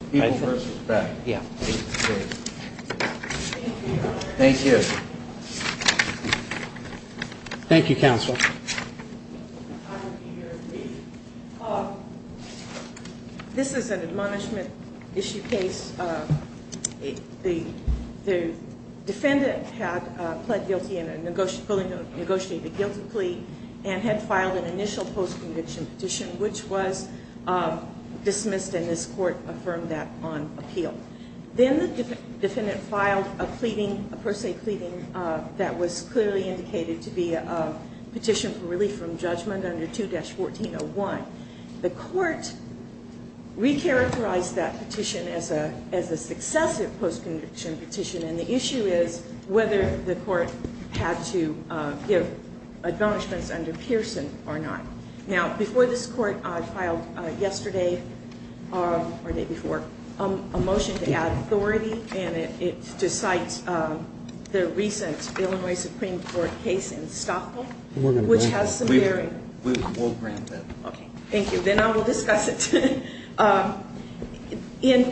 This is an admonishment issue case. The defendant had pled guilty and had negotiated a guilty plea and had filed an initial post-conviction petition, which was dismissed, and this court affirmed that the defendant had pleaded guilty. Then the defendant filed a pleading, a per se pleading, that was clearly indicated to be a petition for relief from judgment under 2-1401. The court re-characterized that petition as a successive post-conviction petition, and the issue is whether the court had to give admonishments under Pearson or not. Now, before this court filed yesterday, or the day before, a motion to add authority and to cite the recent Illinois Supreme Court case in Stockville, which has some bearing. We will grant that. Okay, thank you. Then I will discuss it. In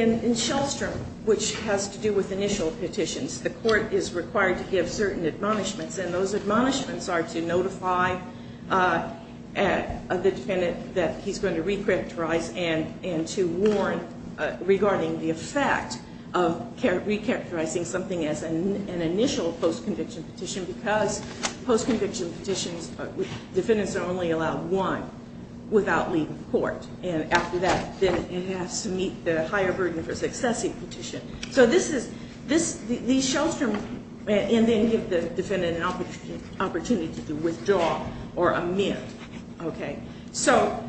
Shellstrom, which has to do with initial petitions, the court is required to give certain admonishments, and those admonishments are to notify the defendant that he's going to re-characterize and to warn regarding the effect of re-characterizing something as an initial post-conviction petition because post-conviction petitions, defendants are only allowed one. Without leaving court, and after that, then it has to meet the higher burden for successive petition. So this is, these Shellstrom, and then give the defendant an opportunity to withdraw or amend. Okay, so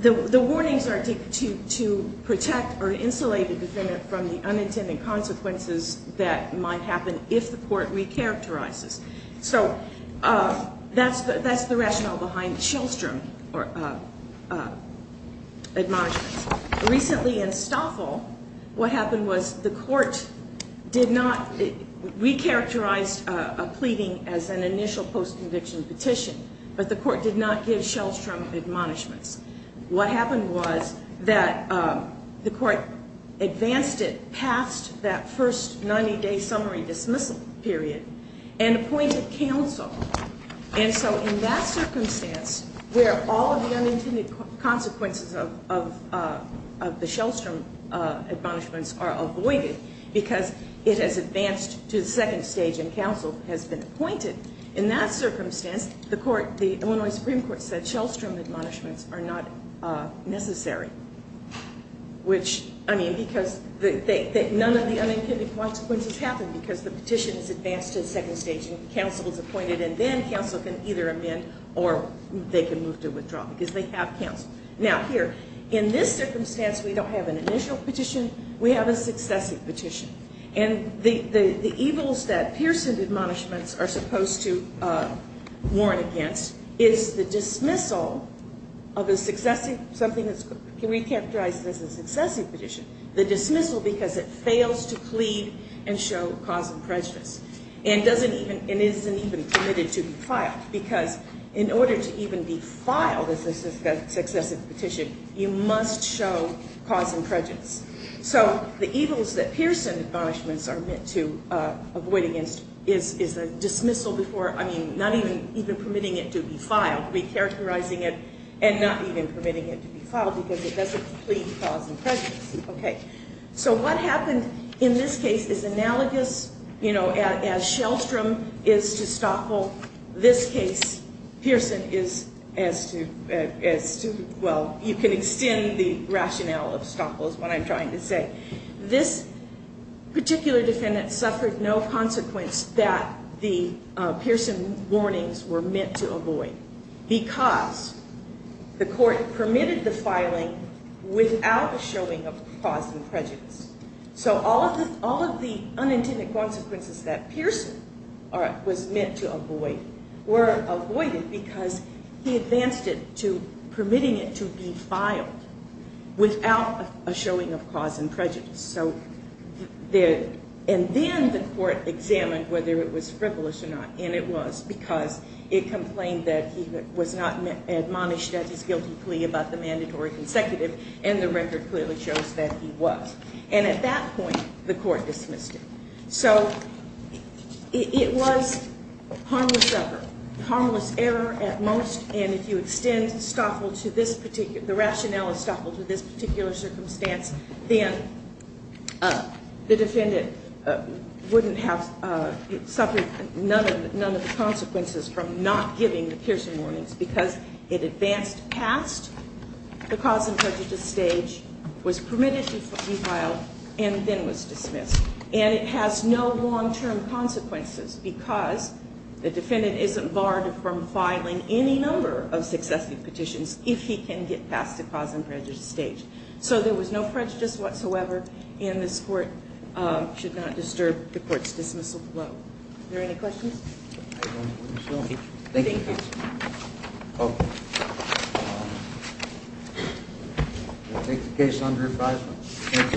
the warnings are to protect or insulate the defendant from the unintended consequences that might happen if the court re-characterizes. So that's the rationale behind Shellstrom admonishments. Recently in Stockville, what happened was the court did not re-characterize a pleading as an initial post-conviction petition, but the court did not give Shellstrom admonishments. What happened was that the court advanced it past that first 90-day summary dismissal period and appointed counsel. And so in that circumstance, where all of the unintended consequences of the Shellstrom admonishments are avoided because it has advanced to the second stage and counsel has been appointed, in that circumstance, the Illinois Supreme Court said Shellstrom admonishments are not necessary. Which, I mean, because none of the unintended consequences happen because the petition is advanced to the second stage and counsel is appointed, and then counsel can either amend or they can move to withdraw because they have counsel. Now here, in this circumstance, we don't have an initial petition. We have a successive petition. And the evils that Pearson admonishments are supposed to warn against is the dismissal of a successive, something that's re-characterized as a successive petition, the dismissal because it fails to plead and show cause and prejudice and doesn't even, and isn't even committed to be filed. Because in order to even be filed as a successive petition, you must show cause and prejudice. So the evils that Pearson admonishments are meant to avoid against is the dismissal before, I mean, not even permitting it to be filed, re-characterizing it and not even permitting it to be filed because it doesn't plead cause and prejudice. Okay. So what happened in this case is analogous, you know, as Shellstrom is to Stockpile. This case, Pearson is as to, well, you can extend the rationale of Stockpile is what I'm trying to say. This particular defendant suffered no consequence that the Pearson warnings were meant to avoid because the court permitted the filing without the showing of cause and prejudice. So all of the unintended consequences that Pearson was meant to avoid were avoided because he advanced it to permitting it to be filed without a showing of cause and prejudice. And then the court examined whether it was frivolous or not. And it was because it complained that he was not admonished at his guilty plea about the mandatory consecutive and the record clearly shows that he was. And at that point, the court dismissed it. So it was harmless error at most, and if you extend Stockpile to this particular, the rationale of Stockpile to this particular circumstance, then the defendant wouldn't have suffered none of the consequences from not giving the Pearson warnings because it advanced past the cause and prejudice stage, was permitted to be filed, and then was dismissed. And it has no long-term consequences because the defendant isn't barred from filing any number of successive petitions if he can get past the cause and prejudice stage. So there was no prejudice whatsoever, and this court should not disturb the court's dismissal flow. Are there any questions? Thank you. We'll take the case under refreshment.